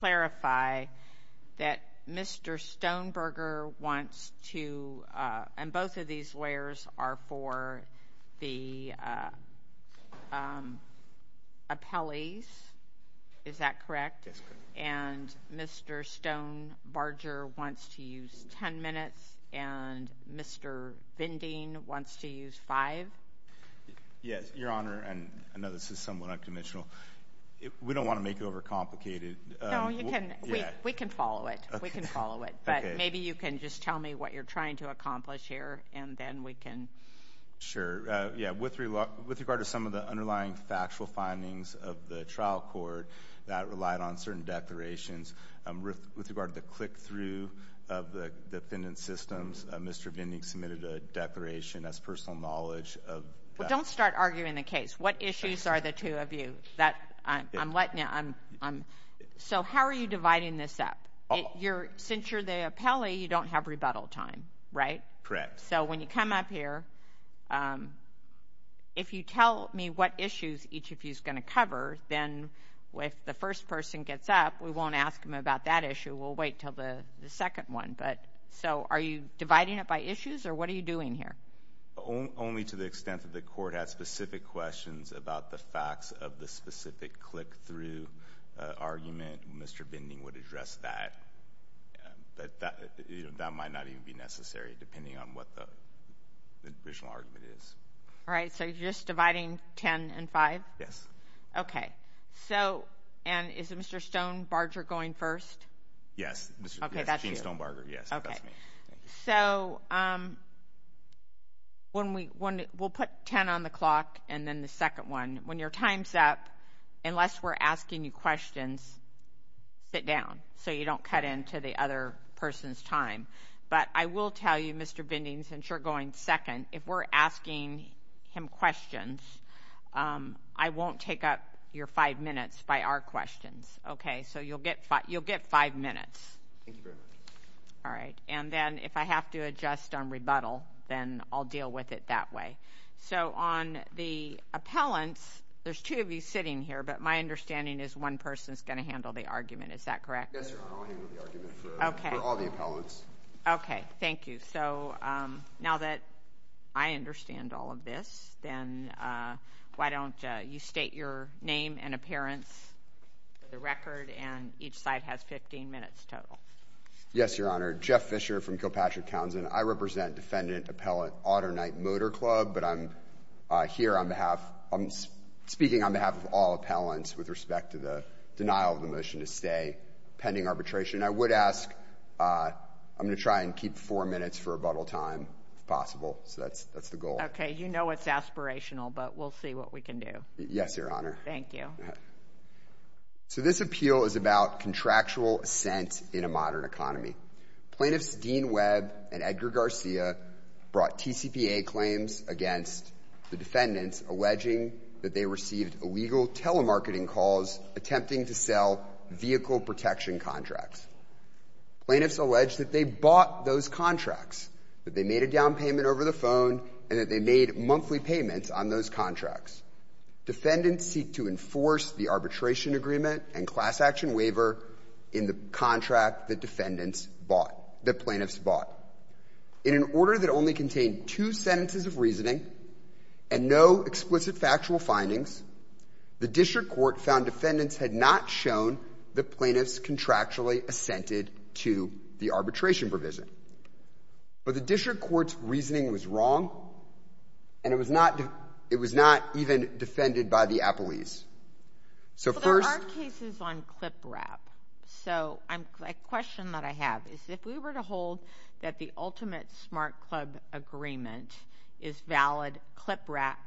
Clarify that Mr. Stoneberger wants to, and both of these lawyers are for the appellees, is that correct? Yes, ma'am. And Mr. Stonebarger wants to use 10 minutes, and Mr. Binding wants to use 5? Yes, Your Honor, and I know this is somewhat unconventional, we don't want to make it overcomplicated. No, you can, we can follow it, we can follow it, but maybe you can just tell me what you're trying to accomplish here, and then we can. Sure. Yeah, with regard to some of the underlying factual findings of the trial court that relied on certain declarations, with regard to the click-through of the defendant's systems, Mr. Binding submitted a declaration as personal knowledge of that. Well, don't start arguing the case. What issues are the two of you? So, how are you dividing this up? Since you're the appellee, you don't have rebuttal time, right? Correct. So, when you come up here, if you tell me what issues each of you is going to cover, then if the first person gets up, we won't ask him about that issue, we'll wait until the second one. But, so, are you dividing it by issues, or what are you doing here? Only to the extent that the court has specific questions about the facts of the specific click-through argument, Mr. Binding would address that. That might not even be necessary, depending on what the original argument is. All right, so you're just dividing 10 and 5? Yes. Okay. So, and is Mr. Stonebarger going first? Yes. Okay, that's you. Gene Stonebarger, yes. That's me. So, when we, we'll put 10 on the clock, and then the second one. When your time's up, unless we're asking you questions, sit down, so you don't cut into the other person's time. But, I will tell you, Mr. Binding, since you're going second, if we're asking him questions, I won't take up your five minutes by our questions. Okay? So, you'll get five minutes. Thank you, ma'am. All right. And then, if I have to adjust on rebuttal, then I'll deal with it that way. So, on the appellants, there's two of you sitting here, but my understanding is one person's going to handle the argument. Is that correct? Yes, Your Honor. I'll handle the argument for all the appellants. Okay. Okay. Thank you. So, now that I understand all of this, then why don't you state your name and appearance for the record, and each side has 15 minutes total. Yes, Your Honor. Jeff Fisher from Kilpatrick, Townsend. I represent Defendant Appellant Otternight Motor Club, but I'm here on behalf, I'm speaking on behalf of all appellants with respect to the denial of the motion to stay pending arbitration. I would ask, I'm going to try and keep four minutes for rebuttal time, if possible. So, that's the goal. Okay. You know it's aspirational, but we'll see what we can do. Yes, Your Honor. Thank you. So, this appeal is about contractual assent in a modern economy. Plaintiffs Dean Webb and Edgar Garcia brought TCPA claims against the defendants, alleging that they received illegal telemarketing calls attempting to sell vehicle protection contracts. Plaintiffs alleged that they bought those contracts, that they made a down payment over the phone, and that they made monthly payments on those contracts. Defendants seek to enforce the arbitration agreement and class action waiver in the contract that defendants bought, that plaintiffs bought. In an order that only contained two sentences of reasoning and no explicit factual findings, the district court found defendants had not shown that plaintiffs contractually assented to the arbitration provision. But the district court's reasoning was wrong, and it was not even defended by the appellees. So first... But there are cases on clip wrap, so a question that I have is if we were to hold that the ultimate smart club agreement is valid clip wrap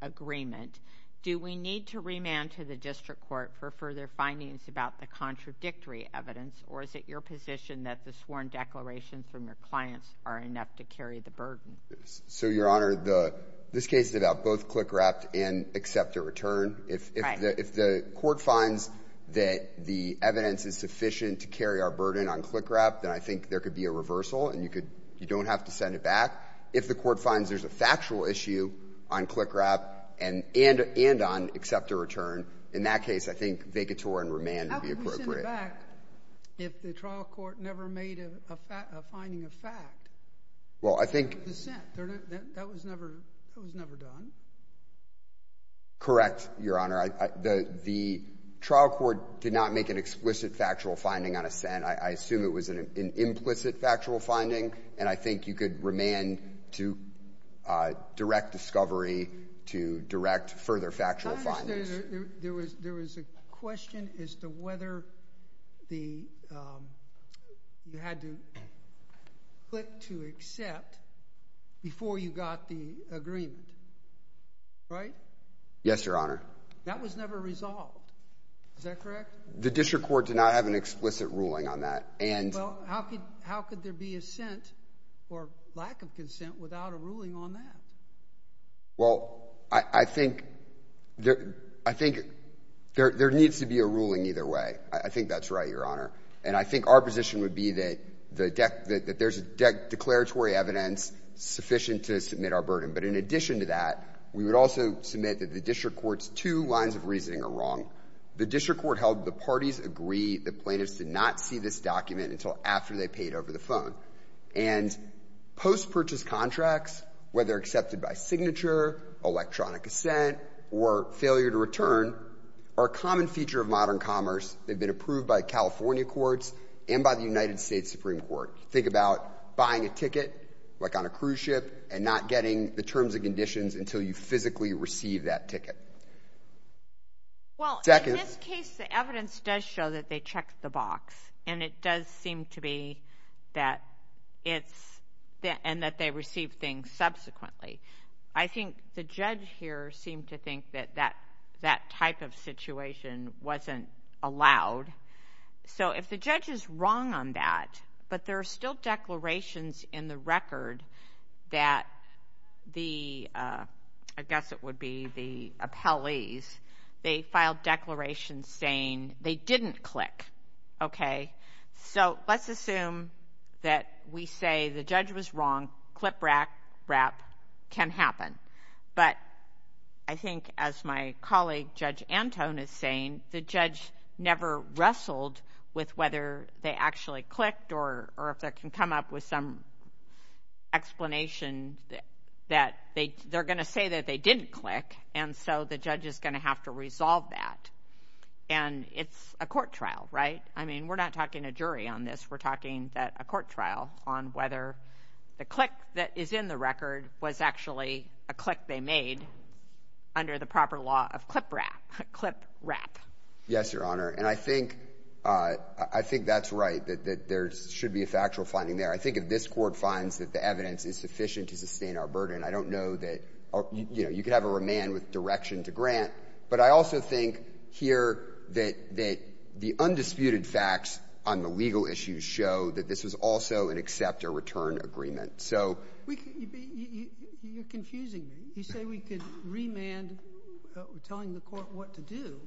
agreement, do we need to remand to the district court for further findings about the contradictory evidence, or is it your position that the sworn declarations from your clients are enough to carry the burden? So Your Honor, this case is about both clip wrap and accept or return. If the court finds that the evidence is sufficient to carry our burden on clip wrap, then I think there could be a reversal, and you don't have to send it back. If the court finds there's a factual issue on clip wrap and on accept or return, in that case, I think vacatur and remand would be appropriate. In fact, if the trial court never made a finding of fact, the assent, that was never done. Correct, Your Honor. The trial court did not make an explicit factual finding on assent. I assume it was an implicit factual finding, and I think you could remand to direct discovery, to direct further factual findings. There was a question as to whether you had to click to accept before you got the agreement, right? Yes, Your Honor. That was never resolved, is that correct? The district court did not have an explicit ruling on that. Well, how could there be assent or lack of consent without a ruling on that? Well, I think there needs to be a ruling either way. I think that's right, Your Honor. And I think our position would be that there's declaratory evidence sufficient to submit our burden. But in addition to that, we would also submit that the district court's two lines of reasoning are wrong. The district court held the parties agree the plaintiffs did not see this document until after they paid over the phone. And post-purchase contracts, whether accepted by signature, electronic assent, or failure to return, are a common feature of modern commerce. They've been approved by California courts and by the United States Supreme Court. Think about buying a ticket, like on a cruise ship, and not getting the terms and conditions until you physically receive that ticket. Well, in this case, the evidence does show that they checked the box, and it does seem to be that it's, and that they received things subsequently. I think the judge here seemed to think that that type of situation wasn't allowed. So if the judge is wrong on that, but there are still declarations in the record that the, I guess it would be the appellees, they filed declarations saying they didn't click. Okay? So let's assume that we say the judge was wrong, clip wrap can happen. But I think, as my colleague Judge Antone is saying, the judge never wrestled with whether they actually clicked, or if they can come up with some explanation that they're going to say that they didn't click, and so the judge is going to have to resolve that. And it's a court trial, right? I mean, we're not talking a jury on this. We're talking a court trial on whether the click that is in the record was actually a click they made under the proper law of clip wrap. Clip wrap. Yes, Your Honor. And I think, I think that's right, that there should be a factual finding there. I think if this court finds that the evidence is sufficient to sustain our burden, I don't know that, you know, you could have a remand with direction to grant. But I also think here that the undisputed facts on the legal issues show that this was also an accept or return agreement. So we could be, you're confusing me. You say we could remand telling the court what to do,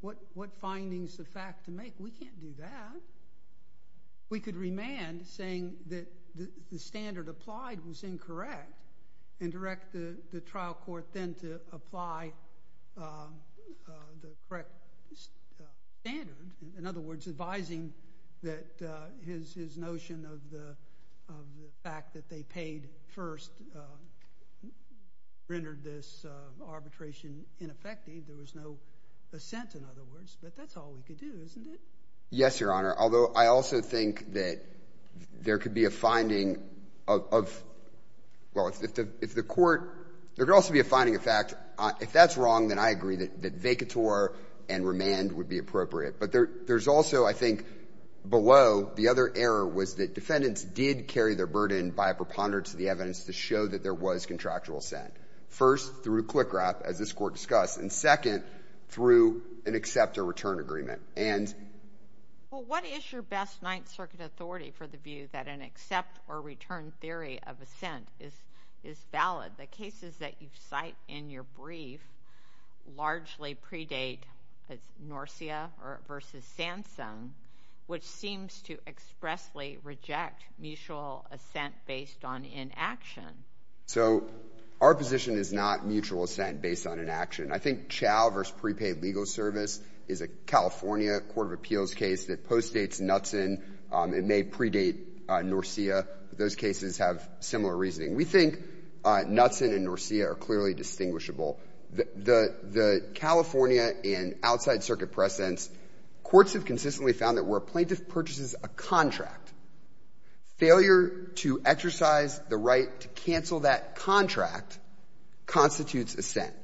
what findings the fact to make. We can't do that. We could remand saying that the standard applied was incorrect, and direct the trial court then to apply the correct standard. In other words, advising that his notion of the fact that they paid first rendered this arbitration ineffective. There was no assent, in other words. But that's all we could do, isn't it? Yes, Your Honor. Although, I also think that there could be a finding of, well, if the court, there could also be a finding of fact, if that's wrong, then I agree that vacatur and remand would be appropriate. But there's also, I think, below, the other error was that defendants did carry their burden by a preponderance of the evidence to show that there was contractual assent. First through CLCCRAP, as this court discussed, and second through an accept or return agreement. And — Well, what is your best Ninth Circuit authority for the view that an accept or return theory of assent is valid? The cases that you cite in your brief largely predate Norcia versus Sansom, which seems to expressly reject mutual assent based on inaction. So our position is not mutual assent based on inaction. I think Chau versus prepaid legal service is a California court of appeals case that postdates Knutson. It may predate Norcia. Those cases have similar reasoning. We think Knutson and Norcia are clearly distinguishable. The California and outside circuit precedents, courts have consistently found that where a plaintiff purchases a contract, failure to exercise the right to cancel that contract constitutes assent.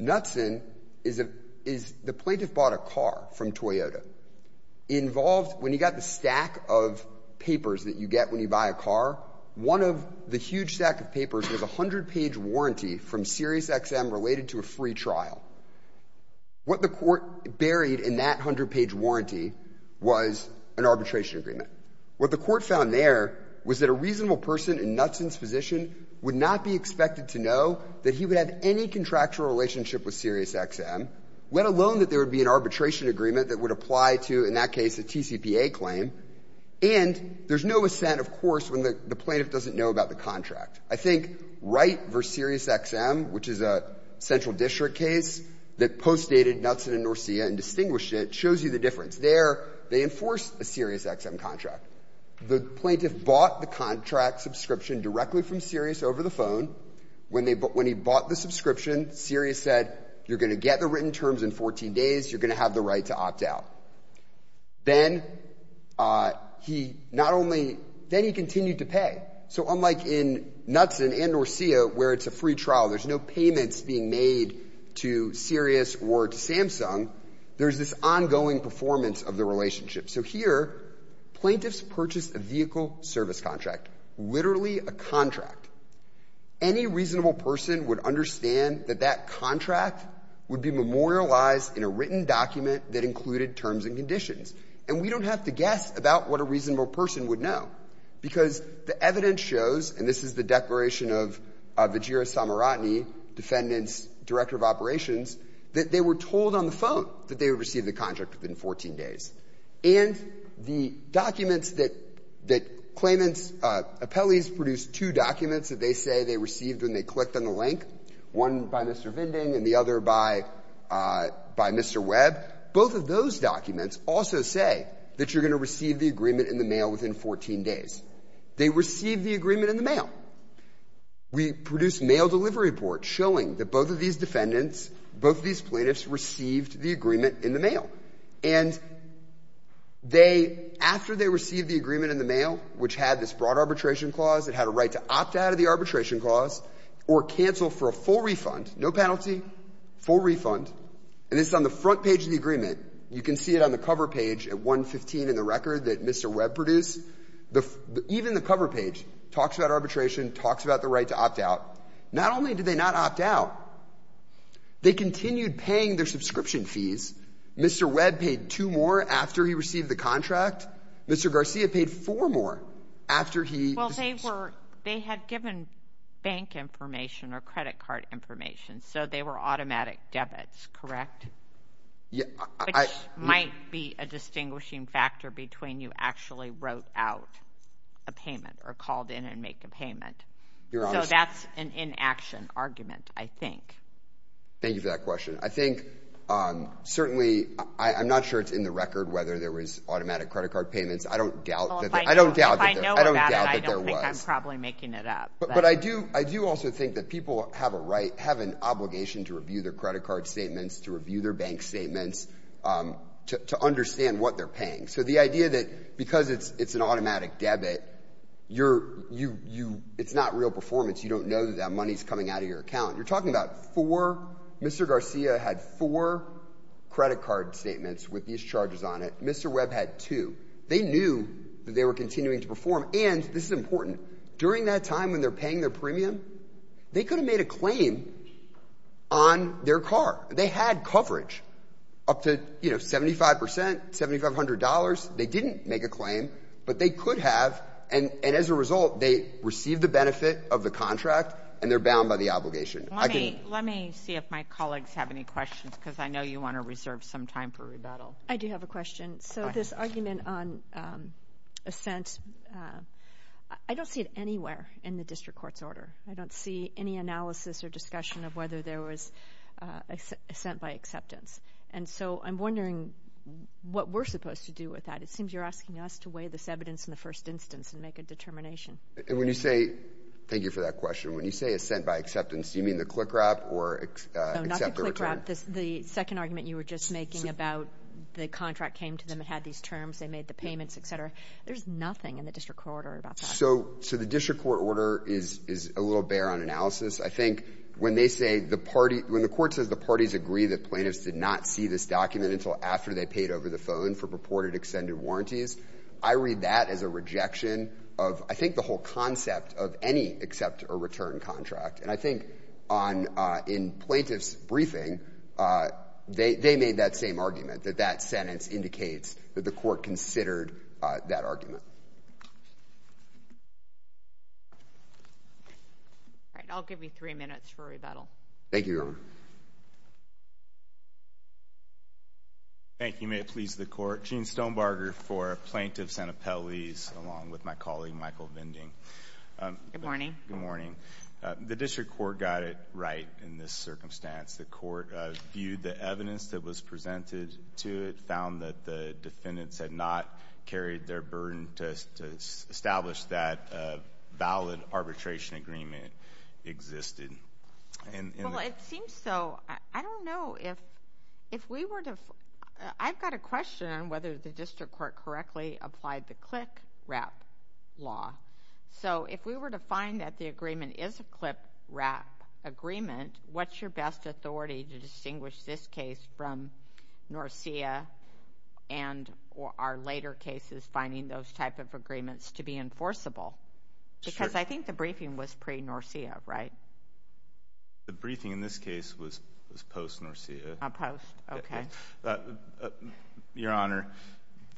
Knutson is a — is — the plaintiff bought a car from Toyota. Involved — when you got the stack of papers that you get when you buy a car, one of the huge stack of papers was a 100-page warranty from SiriusXM related to a free trial. What the court buried in that 100-page warranty was an arbitration agreement. What the court found there was that a reasonable person in Knutson's position would not be expected to know that he would have any contractual relationship with SiriusXM, let alone that there would be an arbitration agreement that would apply to, in that case, a TCPA claim, and there's no assent, of course, when the plaintiff doesn't know about the contract. I think Wright v. SiriusXM, which is a central district case that postdated Knutson and Norcia and distinguished it, shows you the difference. There, they enforce a SiriusXM contract. The plaintiff bought the contract subscription directly from Sirius over the phone. When they — when he bought the subscription, Sirius said, you're going to get the written terms in 14 days, you're going to have the right to opt out. Then he not only — then he continued to pay. So unlike in Knutson and Norcia, where it's a free trial, there's no payments being made to Sirius or to Samsung, there's this ongoing performance of the relationship. So here, plaintiffs purchased a vehicle service contract, literally a contract. Any reasonable person would understand that that contract would be memorialized in a written document that included terms and conditions. And we don't have to guess about what a reasonable person would know, because the evidence shows — and this is the declaration of Vajira Samaratne, defendant's director of operations, that they were told on the phone that they would receive the contract within 14 days. And the documents that — that claimants — appellees produced two documents that they say they received when they clicked on the link, one by Mr. Vinding and the other by — by Mr. Webb. Both of those documents also say that you're going to receive the agreement in the mail within 14 days. They received the agreement in the mail. We produced mail delivery reports showing that both of these defendants, both of these plaintiffs received the agreement in the mail. And they — after they received the agreement in the mail, which had this broad arbitration clause, it had a right to opt out of the arbitration clause or cancel for a full refund — no penalty, full refund. And this is on the front page of the agreement. You can see it on the cover page at 115 in the record that Mr. Webb produced. The — even the cover page talks about arbitration, talks about the right to opt out. Not only did they not opt out, they continued paying their subscription fees. Mr. Webb paid two more after he received the contract. Mr. Garcia paid four more after he — Well, they were — they had given bank information or credit card information, so they were automatic debits, correct? Yeah, I — Which might be a distinguishing factor between you actually wrote out a payment or called in and make a payment. You're honest. So that's an inaction argument, I think. Thank you for that question. I think, certainly, I'm not sure it's in the record whether there was automatic credit card payments. I don't doubt that — I think I'm probably making it up. But I do — I do also think that people have a right — have an obligation to review their credit card statements, to review their bank statements, to understand what they're paying. So the idea that because it's an automatic debit, you're — it's not real performance. You don't know that that money's coming out of your account. You're talking about four — Mr. Garcia had four credit card statements with these charges on it. Mr. Webb had two. They knew that they were continuing to perform. And this is important. During that time when they're paying their premium, they could have made a claim on their car. They had coverage up to, you know, 75 percent, $7,500. They didn't make a claim, but they could have. And as a result, they received the benefit of the contract, and they're bound by the obligation. Let me — let me see if my colleagues have any questions, because I know you want to reserve some time for rebuttal. I do have a question. So this argument on assent, I don't see it anywhere in the district court's order. I don't see any analysis or discussion of whether there was assent by acceptance. And so I'm wondering what we're supposed to do with that. It seems you're asking us to weigh this evidence in the first instance and make a determination. And when you say — thank you for that question. When you say assent by acceptance, do you mean the CLICRAP or — No, not the CLICRAP. The second argument you were just making about the contract came to them and had these terms, they made the payments, et cetera. There's nothing in the district court order about that. So the district court order is a little bare on analysis. I think when they say the party — when the court says the parties agree that plaintiffs did not see this document until after they paid over the phone for purported extended warranties, I read that as a rejection of, I think, the whole concept of any accept or return contract. And I think on — in plaintiff's briefing, they made that same argument, that that sentence indicates that the court considered that argument. All right. I'll give you three minutes for rebuttal. Thank you, Your Honor. Thank you. May it please the court. Gene Stonebarger for Plaintiffs and Appellees, along with my colleague Michael Vinding. Good morning. Good morning. The district court got it right in this circumstance. The court viewed the evidence that was presented to it, found that the defendants had not carried their burden to establish that valid arbitration agreement existed. Well, it seems so. I don't know if — if we were to — I've got a question on whether the district court correctly applied the CLICWRAP law. So, if we were to find that the agreement is a CLICWRAP agreement, what's your best authority to distinguish this case from Norcia and our later cases finding those type of agreements to be enforceable? Because I think the briefing was pre-Norcia, right? The briefing in this case was post-Norcia. Oh, post. Okay. So, Your Honor,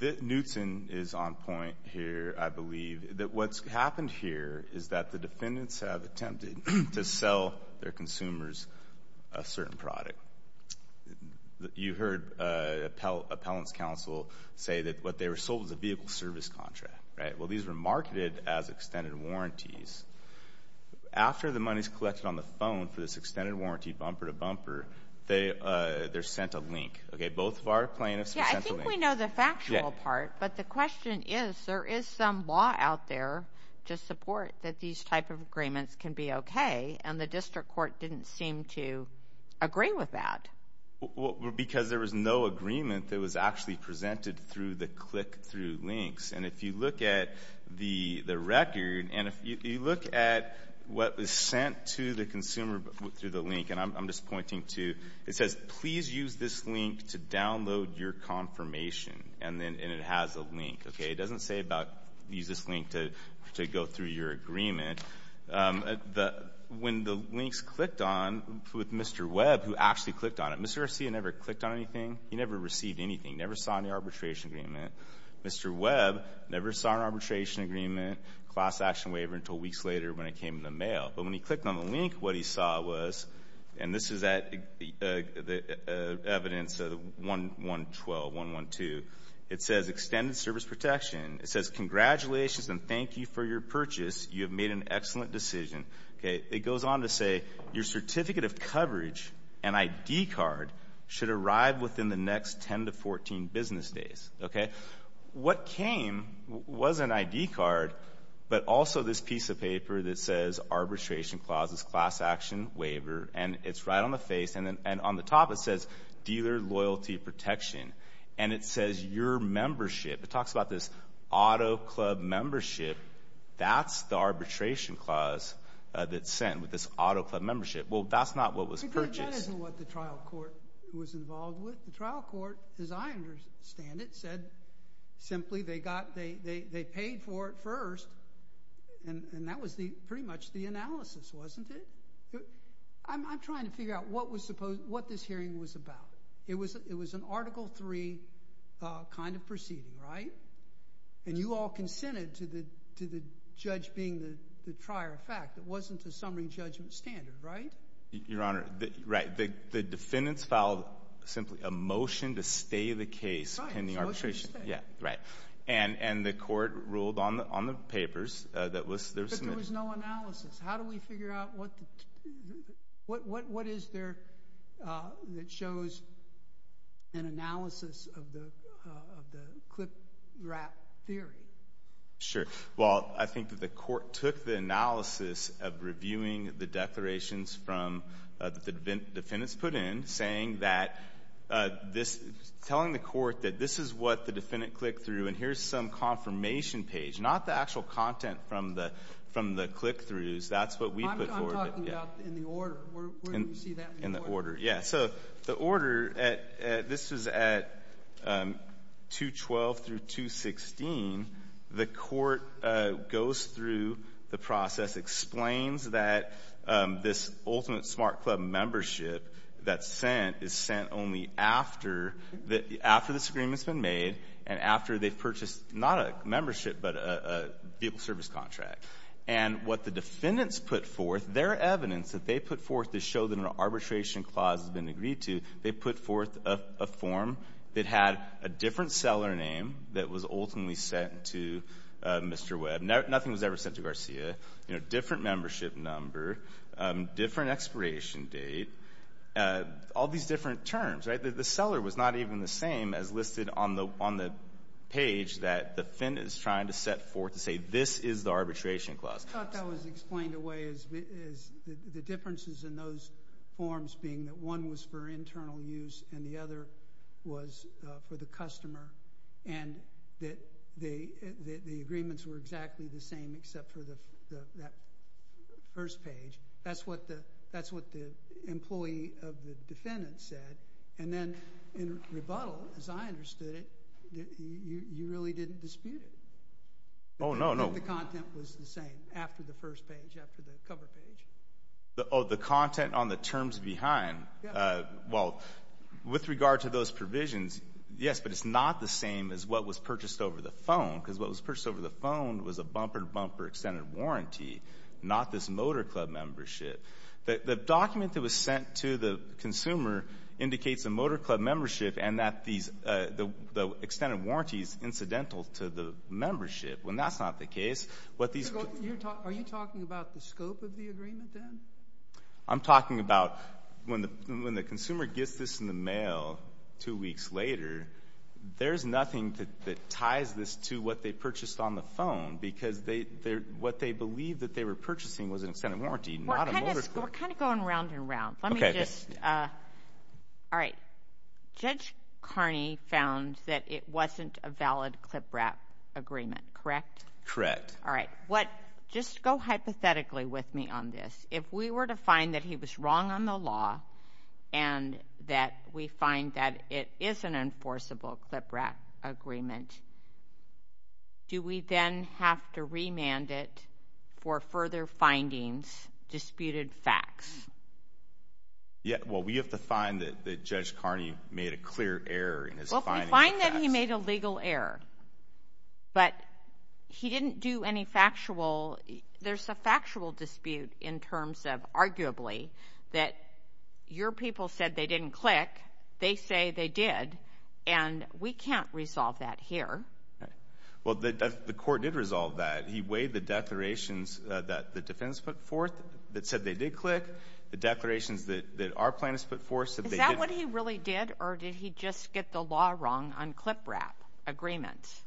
Knutson is on point here, I believe, that what's happened here is that the defendants have attempted to sell their consumers a certain product. You heard the appellant's counsel say that what they were sold was a vehicle service contract, right? Well, these were marketed as extended warranties. After the money's collected on the phone for this extended warranty bumper-to-bumper, they're sent a link, okay? Both of our plaintiffs were sent a link. Yeah, I think we know the factual part, but the question is, there is some law out there to support that these type of agreements can be okay, and the district court didn't seem to agree with that. Because there was no agreement that was actually presented through the CLIC through links. And if you look at the record, and if you look at what was sent to the consumer through the link, and I'm just pointing to, it says, please use this link to download your confirmation. And then it has a link, okay? It doesn't say about, use this link to go through your agreement. When the links clicked on, with Mr. Webb, who actually clicked on it, Mr. Garcia never clicked on anything. He never received anything. Never saw any arbitration agreement. Mr. Webb never saw an arbitration agreement, class action waiver, until weeks later when it came in the mail. But when he clicked on the link, what he saw was, and this is at evidence 1112, 112. It says, extended service protection. It says, congratulations and thank you for your purchase. You have made an excellent decision. Okay, it goes on to say, your certificate of coverage, an ID card, should arrive within the next 10 to 14 business days. What came was an ID card, but also this piece of paper that says, arbitration clauses, class action waiver. And it's right on the face, and on the top it says, dealer loyalty protection. And it says, your membership. It talks about this auto club membership. That's the arbitration clause that's sent with this auto club membership. Well, that's not what was purchased. That isn't what the trial court was involved with. The trial court, as I understand it, said, simply, they paid for it first. And that was pretty much the analysis, wasn't it? I'm trying to figure out what this hearing was about. It was an Article III kind of proceeding, right? And you all consented to the judge being the trier of fact. It wasn't a summary judgment standard, right? Your Honor, right. The defendants filed, simply, a motion to stay the case, pending arbitration. Right, a motion to stay. Yeah, right. And the court ruled on the papers that were submitted. But there was no analysis. How do we figure out what is there that shows an analysis of the clip-wrap theory? Sure. Well, I think that the court took the analysis of reviewing the declarations from the defendants put in, saying that this, telling the court that this is what the defendant clicked through. And here's some confirmation page. Not the actual content from the click-throughs. That's what we put forward. I'm talking about in the order. Where do you see that? In the order, yeah. The order, this was at 212 through 216. The court goes through the process, explains that this ultimate smart club membership that's sent is sent only after this agreement's been made and after they've purchased, not a membership, but a vehicle service contract. And what the defendants put forth, their evidence that they put forth to show that an agreed to, they put forth a form that had a different seller name that was ultimately sent to Mr. Webb. Nothing was ever sent to Garcia. You know, different membership number, different expiration date. All these different terms, right? The seller was not even the same as listed on the page that the defendant is trying to set forth to say this is the arbitration clause. I thought that was explained away as the differences in those forms being that one was for internal use and the other was for the customer and that the agreements were exactly the same except for that first page. That's what the employee of the defendant said. And then in rebuttal, as I understood it, you really didn't dispute it. Oh, no, no. The content was the same after the first page, after the cover page. Oh, the content on the terms behind. Well, with regard to those provisions, yes, but it's not the same as what was purchased over the phone because what was purchased over the phone was a bumper-to-bumper extended warranty, not this motor club membership. The document that was sent to the consumer indicates a motor club membership and that the extended warranty is incidental to the membership. When that's not the case, what these— Are you talking about the scope of the agreement, then? I'm talking about when the consumer gets this in the mail two weeks later, there's nothing that ties this to what they purchased on the phone because what they believed that they were purchasing was an extended warranty, not a motor club. We're kind of going round and round. Let me just—all right. Judge Carney found that it wasn't a valid clipwrap agreement, correct? Correct. All right. What—just go hypothetically with me on this. If we were to find that he was wrong on the law and that we find that it is an enforceable clipwrap agreement, do we then have to remand it for further findings, disputed facts? Yeah. Well, we have to find that Judge Carney made a clear error in his findings and facts. But he didn't do any factual—there's a factual dispute in terms of, arguably, that your people said they didn't click. They say they did, and we can't resolve that here. Well, the court did resolve that. He weighed the declarations that the defense put forth that said they did click, the declarations that our plaintiffs put forth said they did. Is that what he really did, or did he just get the law wrong on clipwrap agreements?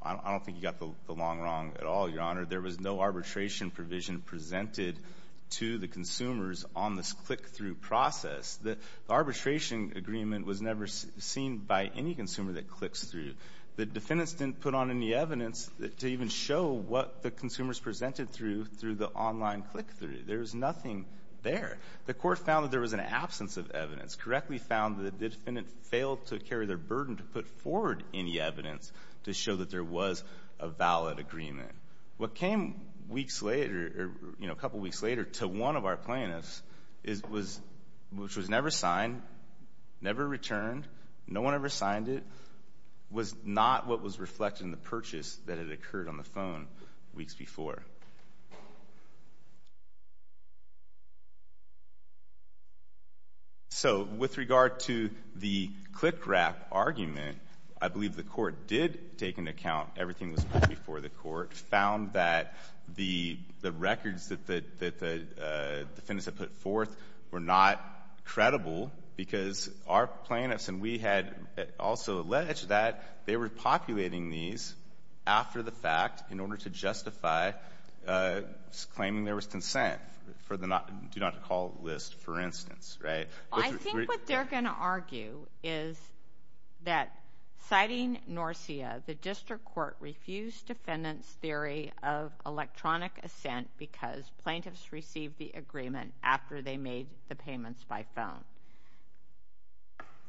I don't think he got the law wrong at all, Your Honor. There was no arbitration provision presented to the consumers on this click-through process. The arbitration agreement was never seen by any consumer that clicks through. The defendants didn't put on any evidence to even show what the consumers presented through through the online click-through. There was nothing there. The court found that there was an absence of evidence, correctly found that the defendant failed to carry their burden to put forward any evidence to show that there was a valid agreement. What came weeks later, a couple weeks later, to one of our plaintiffs, which was never signed, never returned, no one ever signed it, was not what was reflected in the purchase that had occurred on the phone weeks before. So with regard to the click-wrap argument, I believe the court did take into account everything that was put before the court, found that the records that the defendants had put forth were not credible because our plaintiffs and we had also alleged that they were populating these after the fact in order to justify claiming there was consent for the do not call list, for instance, right? I think what they're going to argue is that, citing NORCIA, the district court refused defendants' theory of electronic assent because plaintiffs received the agreement after they made the payments by phone.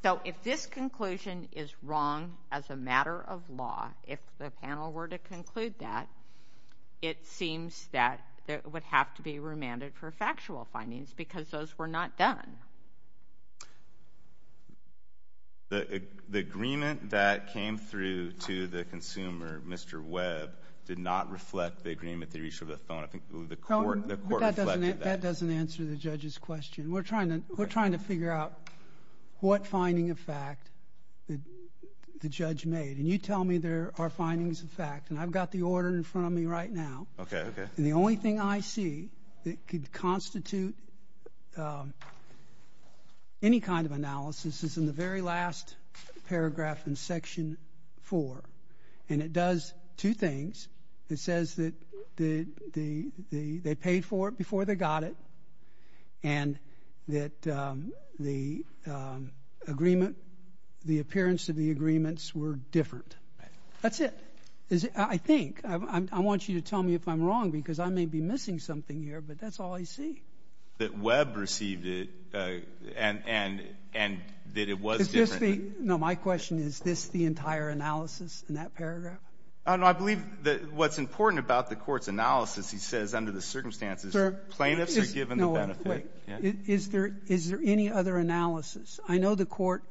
So if this conclusion is wrong as a matter of law, if the panel were to conclude that, it seems that it would have to be remanded for factual findings because those were not done. The agreement that came through to the consumer, Mr. Webb, did not reflect the agreement that reached over the phone. I think the court reflected that. That doesn't answer the judge's question. We're trying to figure out what finding of fact the judge made, and you tell me there are findings of fact, and I've got the order in front of me right now. The only thing I see that could constitute any kind of analysis is in the very last paragraph in Section 4, and it does two things. It says that they paid for it before they got it and that the agreement, the appearance of the agreements were different. That's it. I think. I want you to tell me if I'm wrong because I may be missing something here, but that's all I see. That Webb received it and that it was different. No, my question is, is this the entire analysis in that paragraph? No, I believe that what's important about the court's analysis, he says under the circumstances plaintiffs are given the benefit. Is there any other analysis? I know the court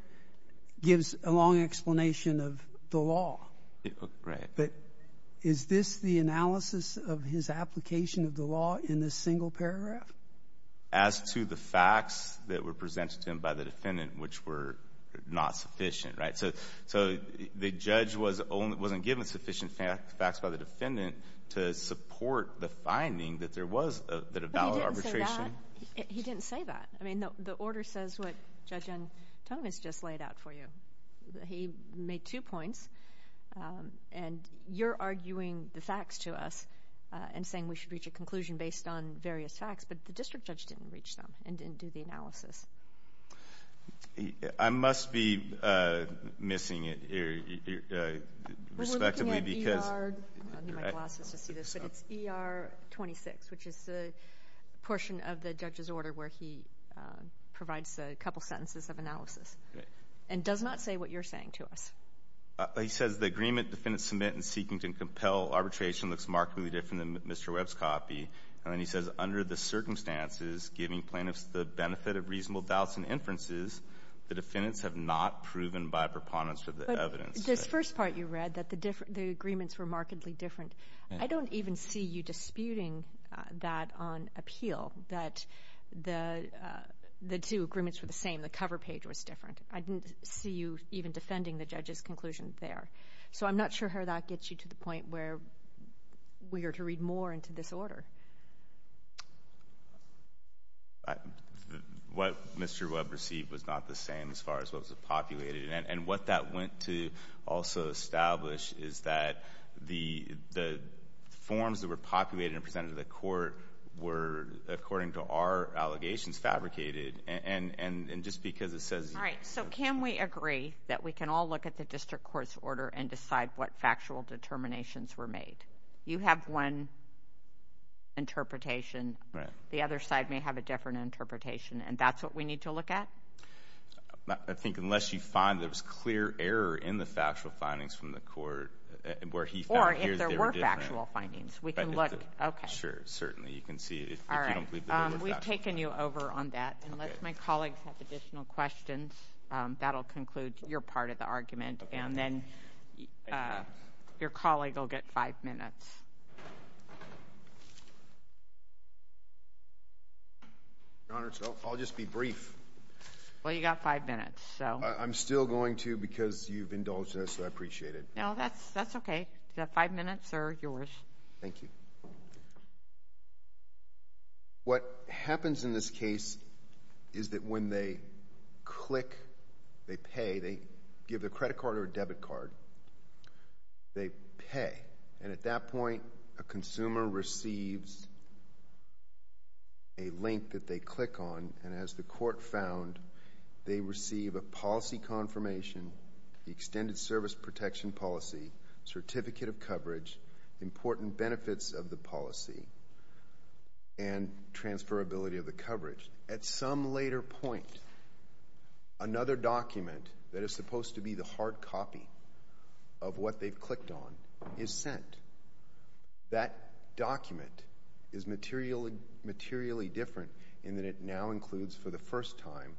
gives a long explanation of the law, but is this the analysis of his application of the law in this single paragraph? As to the facts that were presented to him by the defendant, which were not sufficient, right? So the judge wasn't given sufficient facts by the defendant to support the finding that there was a valid arbitration? He didn't say that. I mean, the order says what Judge Antonovitz just laid out for you. He made two points, and you're arguing the facts to us and saying we should reach a conclusion based on various facts, but the district judge didn't reach them and didn't do the analysis. I must be missing it here, respectively, because We're looking at ER 26, which is the portion of the judge's order where he provides a couple sentences of analysis, and does not say what you're saying to us. He says the agreement the defendant submits in seeking to compel arbitration looks markedly different than Mr. Webb's copy, and then he says under the circumstances, giving plaintiffs the benefit of reasonable doubts and inferences, the defendants have not proven by preponderance of the evidence. But this first part you read, that the agreements were markedly different, I don't even see you disputing that on appeal, that the two agreements were the same, the cover page was different. I didn't see you even defending the judge's conclusion there. So I'm not sure how that gets you to the point where we are to read more into this order. What Mr. Webb received was not the same as far as what was populated, and what that went to also establish is that the forms that were populated and presented to the court were, according to our allegations, fabricated, and just because it says All right, so can we agree that we can all look at the district court's order and decide what factual determinations were made? You have one interpretation. The other side may have a different interpretation, and that's what we need to look at? I think unless you find there was clear error in the factual findings from the court, where he found that they were different. Or if there were factual findings, we can look. Okay. Sure, certainly. You can see if you don't believe there were factual findings. All right. We've taken you over on that. Unless my colleagues have additional questions, that'll conclude your part of the argument, and then your colleague will get five minutes. Your Honor, I'll just be brief. Well, you've got five minutes, so. I'm still going to because you've indulged in this, so I appreciate it. No, that's okay. You've got five minutes. They're yours. Thank you. What happens in this case is that when they click, they pay. They give their credit card or debit card. They pay, and at that point, a consumer receives a link that they click on, and as the court found, they receive a policy confirmation, the extended service protection policy, certificate of coverage, important benefits of the policy, and transferability of the coverage. At some later point, another document that is supposed to be the hard copy of what they've clicked on is sent. That document is materially different in that it now includes, for the first time,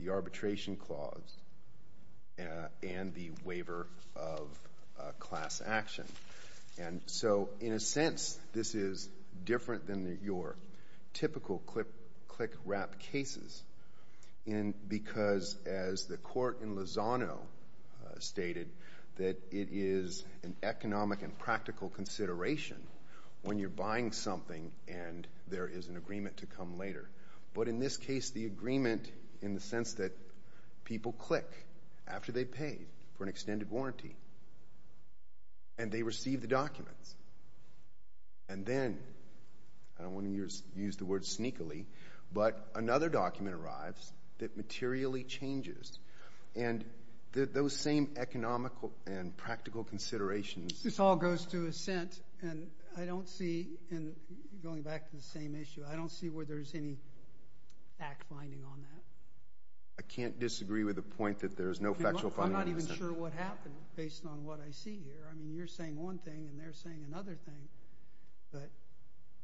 the arbitration clause and the waiver of class action. In a sense, this is different than your typical click-wrap cases because, as the court in Lozano stated, that it is an economic and practical consideration when you're buying something and there is an agreement to come later. But in this case, the agreement in the sense that people click after they pay for an extended warranty, and they receive the documents. And then, I don't want to use the word sneakily, but another document arrives that materially changes, and those same economical and practical considerations— This all goes to assent, and I don't see, going back to the same issue, I don't see where there's any fact-finding on that. I can't disagree with the point that there's no factual finding. I'm not even sure what happened, based on what I see here. I mean, you're saying one thing, and they're saying another thing, but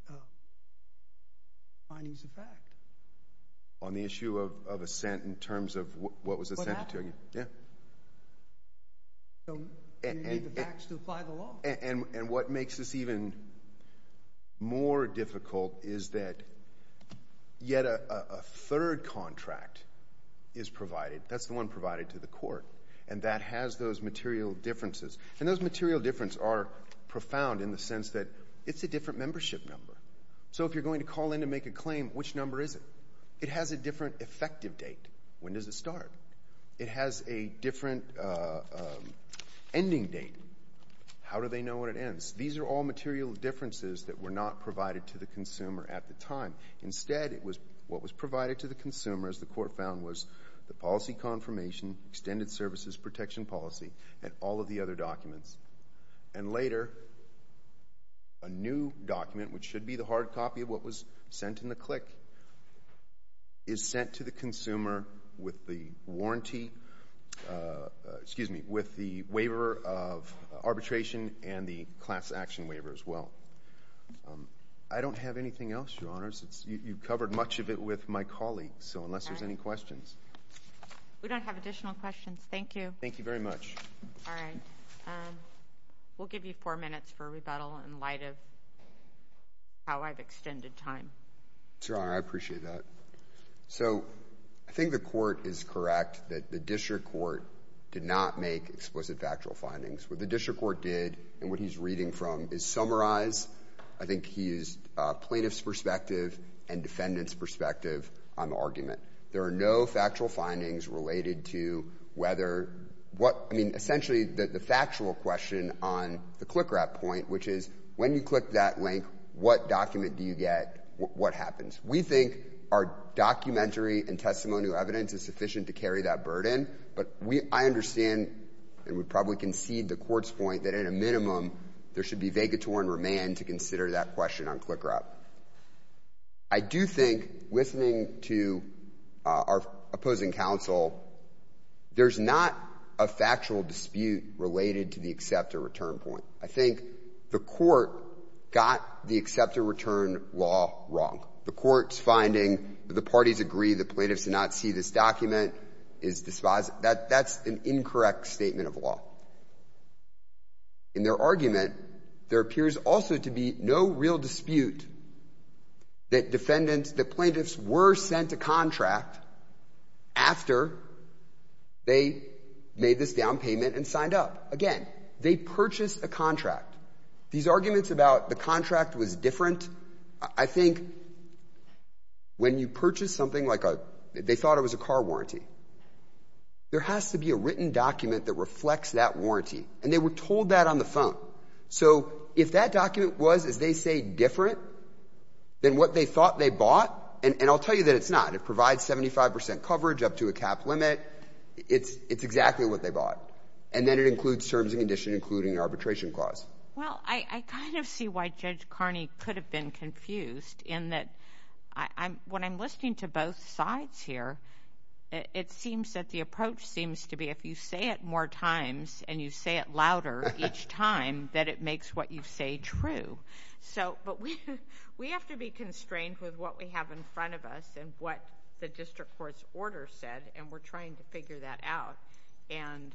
the finding is a fact. On the issue of assent in terms of what was assented to? Well, that— Yeah. So, you need the facts to apply the law. And what makes this even more difficult is that yet a third contract is provided. That's the one provided to the court, and that has those material differences. And those material differences are profound in the sense that it's a different membership number. So, if you're going to call in to make a claim, which number is it? It has a different effective date. When does it start? It has a different ending date. How do they know when it ends? These are all material differences that were not provided to the consumer at the time. Instead, what was provided to the consumer, as the court found, was the policy confirmation, extended services, protection policy, and all of the other documents. And later, a new document, which should be the hard copy of what was sent in the CLIC, is sent to the consumer with the warranty—excuse me, with the waiver of arbitration and the class action waiver as well. I don't have anything else, Your Honors. You've covered much of it with my colleagues, so unless there's any questions. We don't have additional questions. Thank you. Thank you very much. All right. We'll give you four minutes for rebuttal in light of how I've extended time. Sir, I appreciate that. So, I think the court is correct that the district court did not make explicit factual findings. What the district court did, and what he's reading from, is summarize—I think he used plaintiff's perspective and defendant's perspective on the argument. There are no factual findings related to whether—I mean, essentially, the factual question on the CLICRAP point, which is, when you click that link, what document do you get? What happens? We think our documentary and testimonial evidence is sufficient to carry that burden, but I understand, and would probably concede the court's point, that in a minimum, there should be vagator and remand to consider that question on CLICRAP. I do think, listening to our opposing counsel, there's not a factual dispute related to the acceptor return point. I think the court got the acceptor return law wrong. The court's finding that the parties agree the plaintiffs did not see this document is dispos—that's an incorrect statement of law. In their argument, there appears also to be no real dispute that defendants—that plaintiffs were sent a contract after they made this down payment and signed up. Again, they purchased a contract. These arguments about the contract was different, I think, when you purchase something like a—they thought it was a car warranty. There has to be a written document that reflects that warranty, and they were told that on the phone. So, if that document was, as they say, different than what they thought they bought—and I'll tell you that it's not. It provides 75 percent coverage up to a cap limit. It's exactly what they bought. And then it includes terms and conditions, including an arbitration clause. Well, I kind of see why Judge Carney could have been confused in that, when I'm listening to both sides here, it seems that the approach seems to be if you say it more times and you say it louder each time, that it makes what you say true. So, but we have to be constrained with what we have in front of us and what the district court's order said, and we're trying to figure that out. And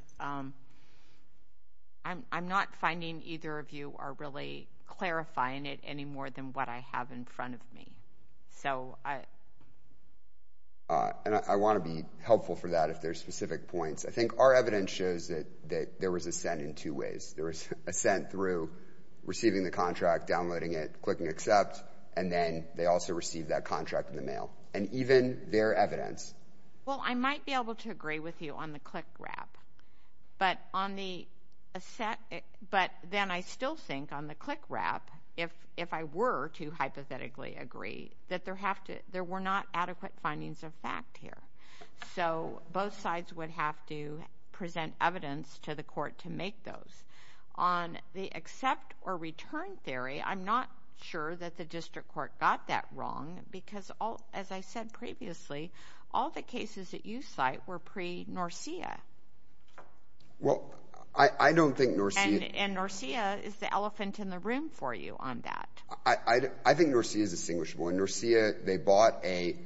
I'm not finding either of you are really clarifying it any more than what I have in front of me. So, I— And I want to be helpful for that, if there's specific points. I think our evidence shows that there was assent in two ways. There was assent through receiving the contract, downloading it, clicking accept, and then they also received that contract in the mail. And even their evidence— Well, I might be able to agree with you on the click wrap, but on the—but then I still think on the click wrap, if I were to hypothetically agree, that there have to—there were not adequate findings of fact here. So, both sides would have to present evidence to the court to make those. On the accept or return theory, I'm not sure that the district court got that wrong, because all—as I said previously, all the cases that you cite were pre-NORCEA. Well, I don't think NORCEA— And NORCEA is the elephant in the room for you on that. I think NORCEA is distinguishable. And NORCEA, they bought a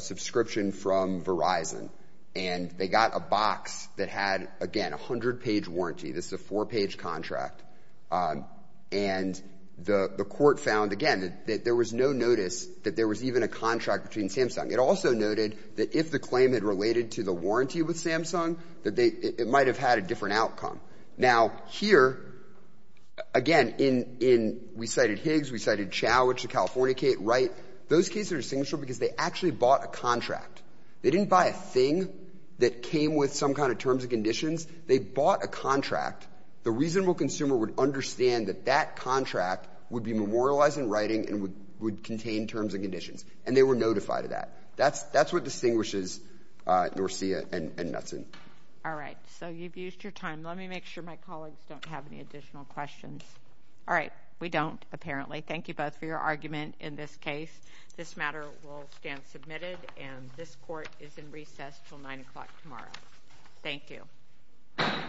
subscription from Verizon, and they got a box that had, again, a hundred-page warranty. This is a four-page contract. And the court found, again, that there was no notice that there was even a contract between Samsung. It also noted that if the claim had related to the warranty with Samsung, that they—it might have had a different outcome. Now, here, again, in—we cited Higgs, we cited Chow, which is a California case, Wright. Those cases are distinguishable because they actually bought a contract. They didn't buy a thing that came with some kind of terms and conditions. They bought a contract. The reasonable consumer would understand that that contract would be memorialized in writing and would contain terms and conditions. And they were notified of that. That's what distinguishes NORCEA and Metsin. All right. So you've used your time. Let me make sure my colleagues don't have any additional questions. All right. We don't, apparently. Thank you both for your argument in this case. This matter will stand submitted, and this court is in recess until 9 o'clock tomorrow. Thank you. Thank you.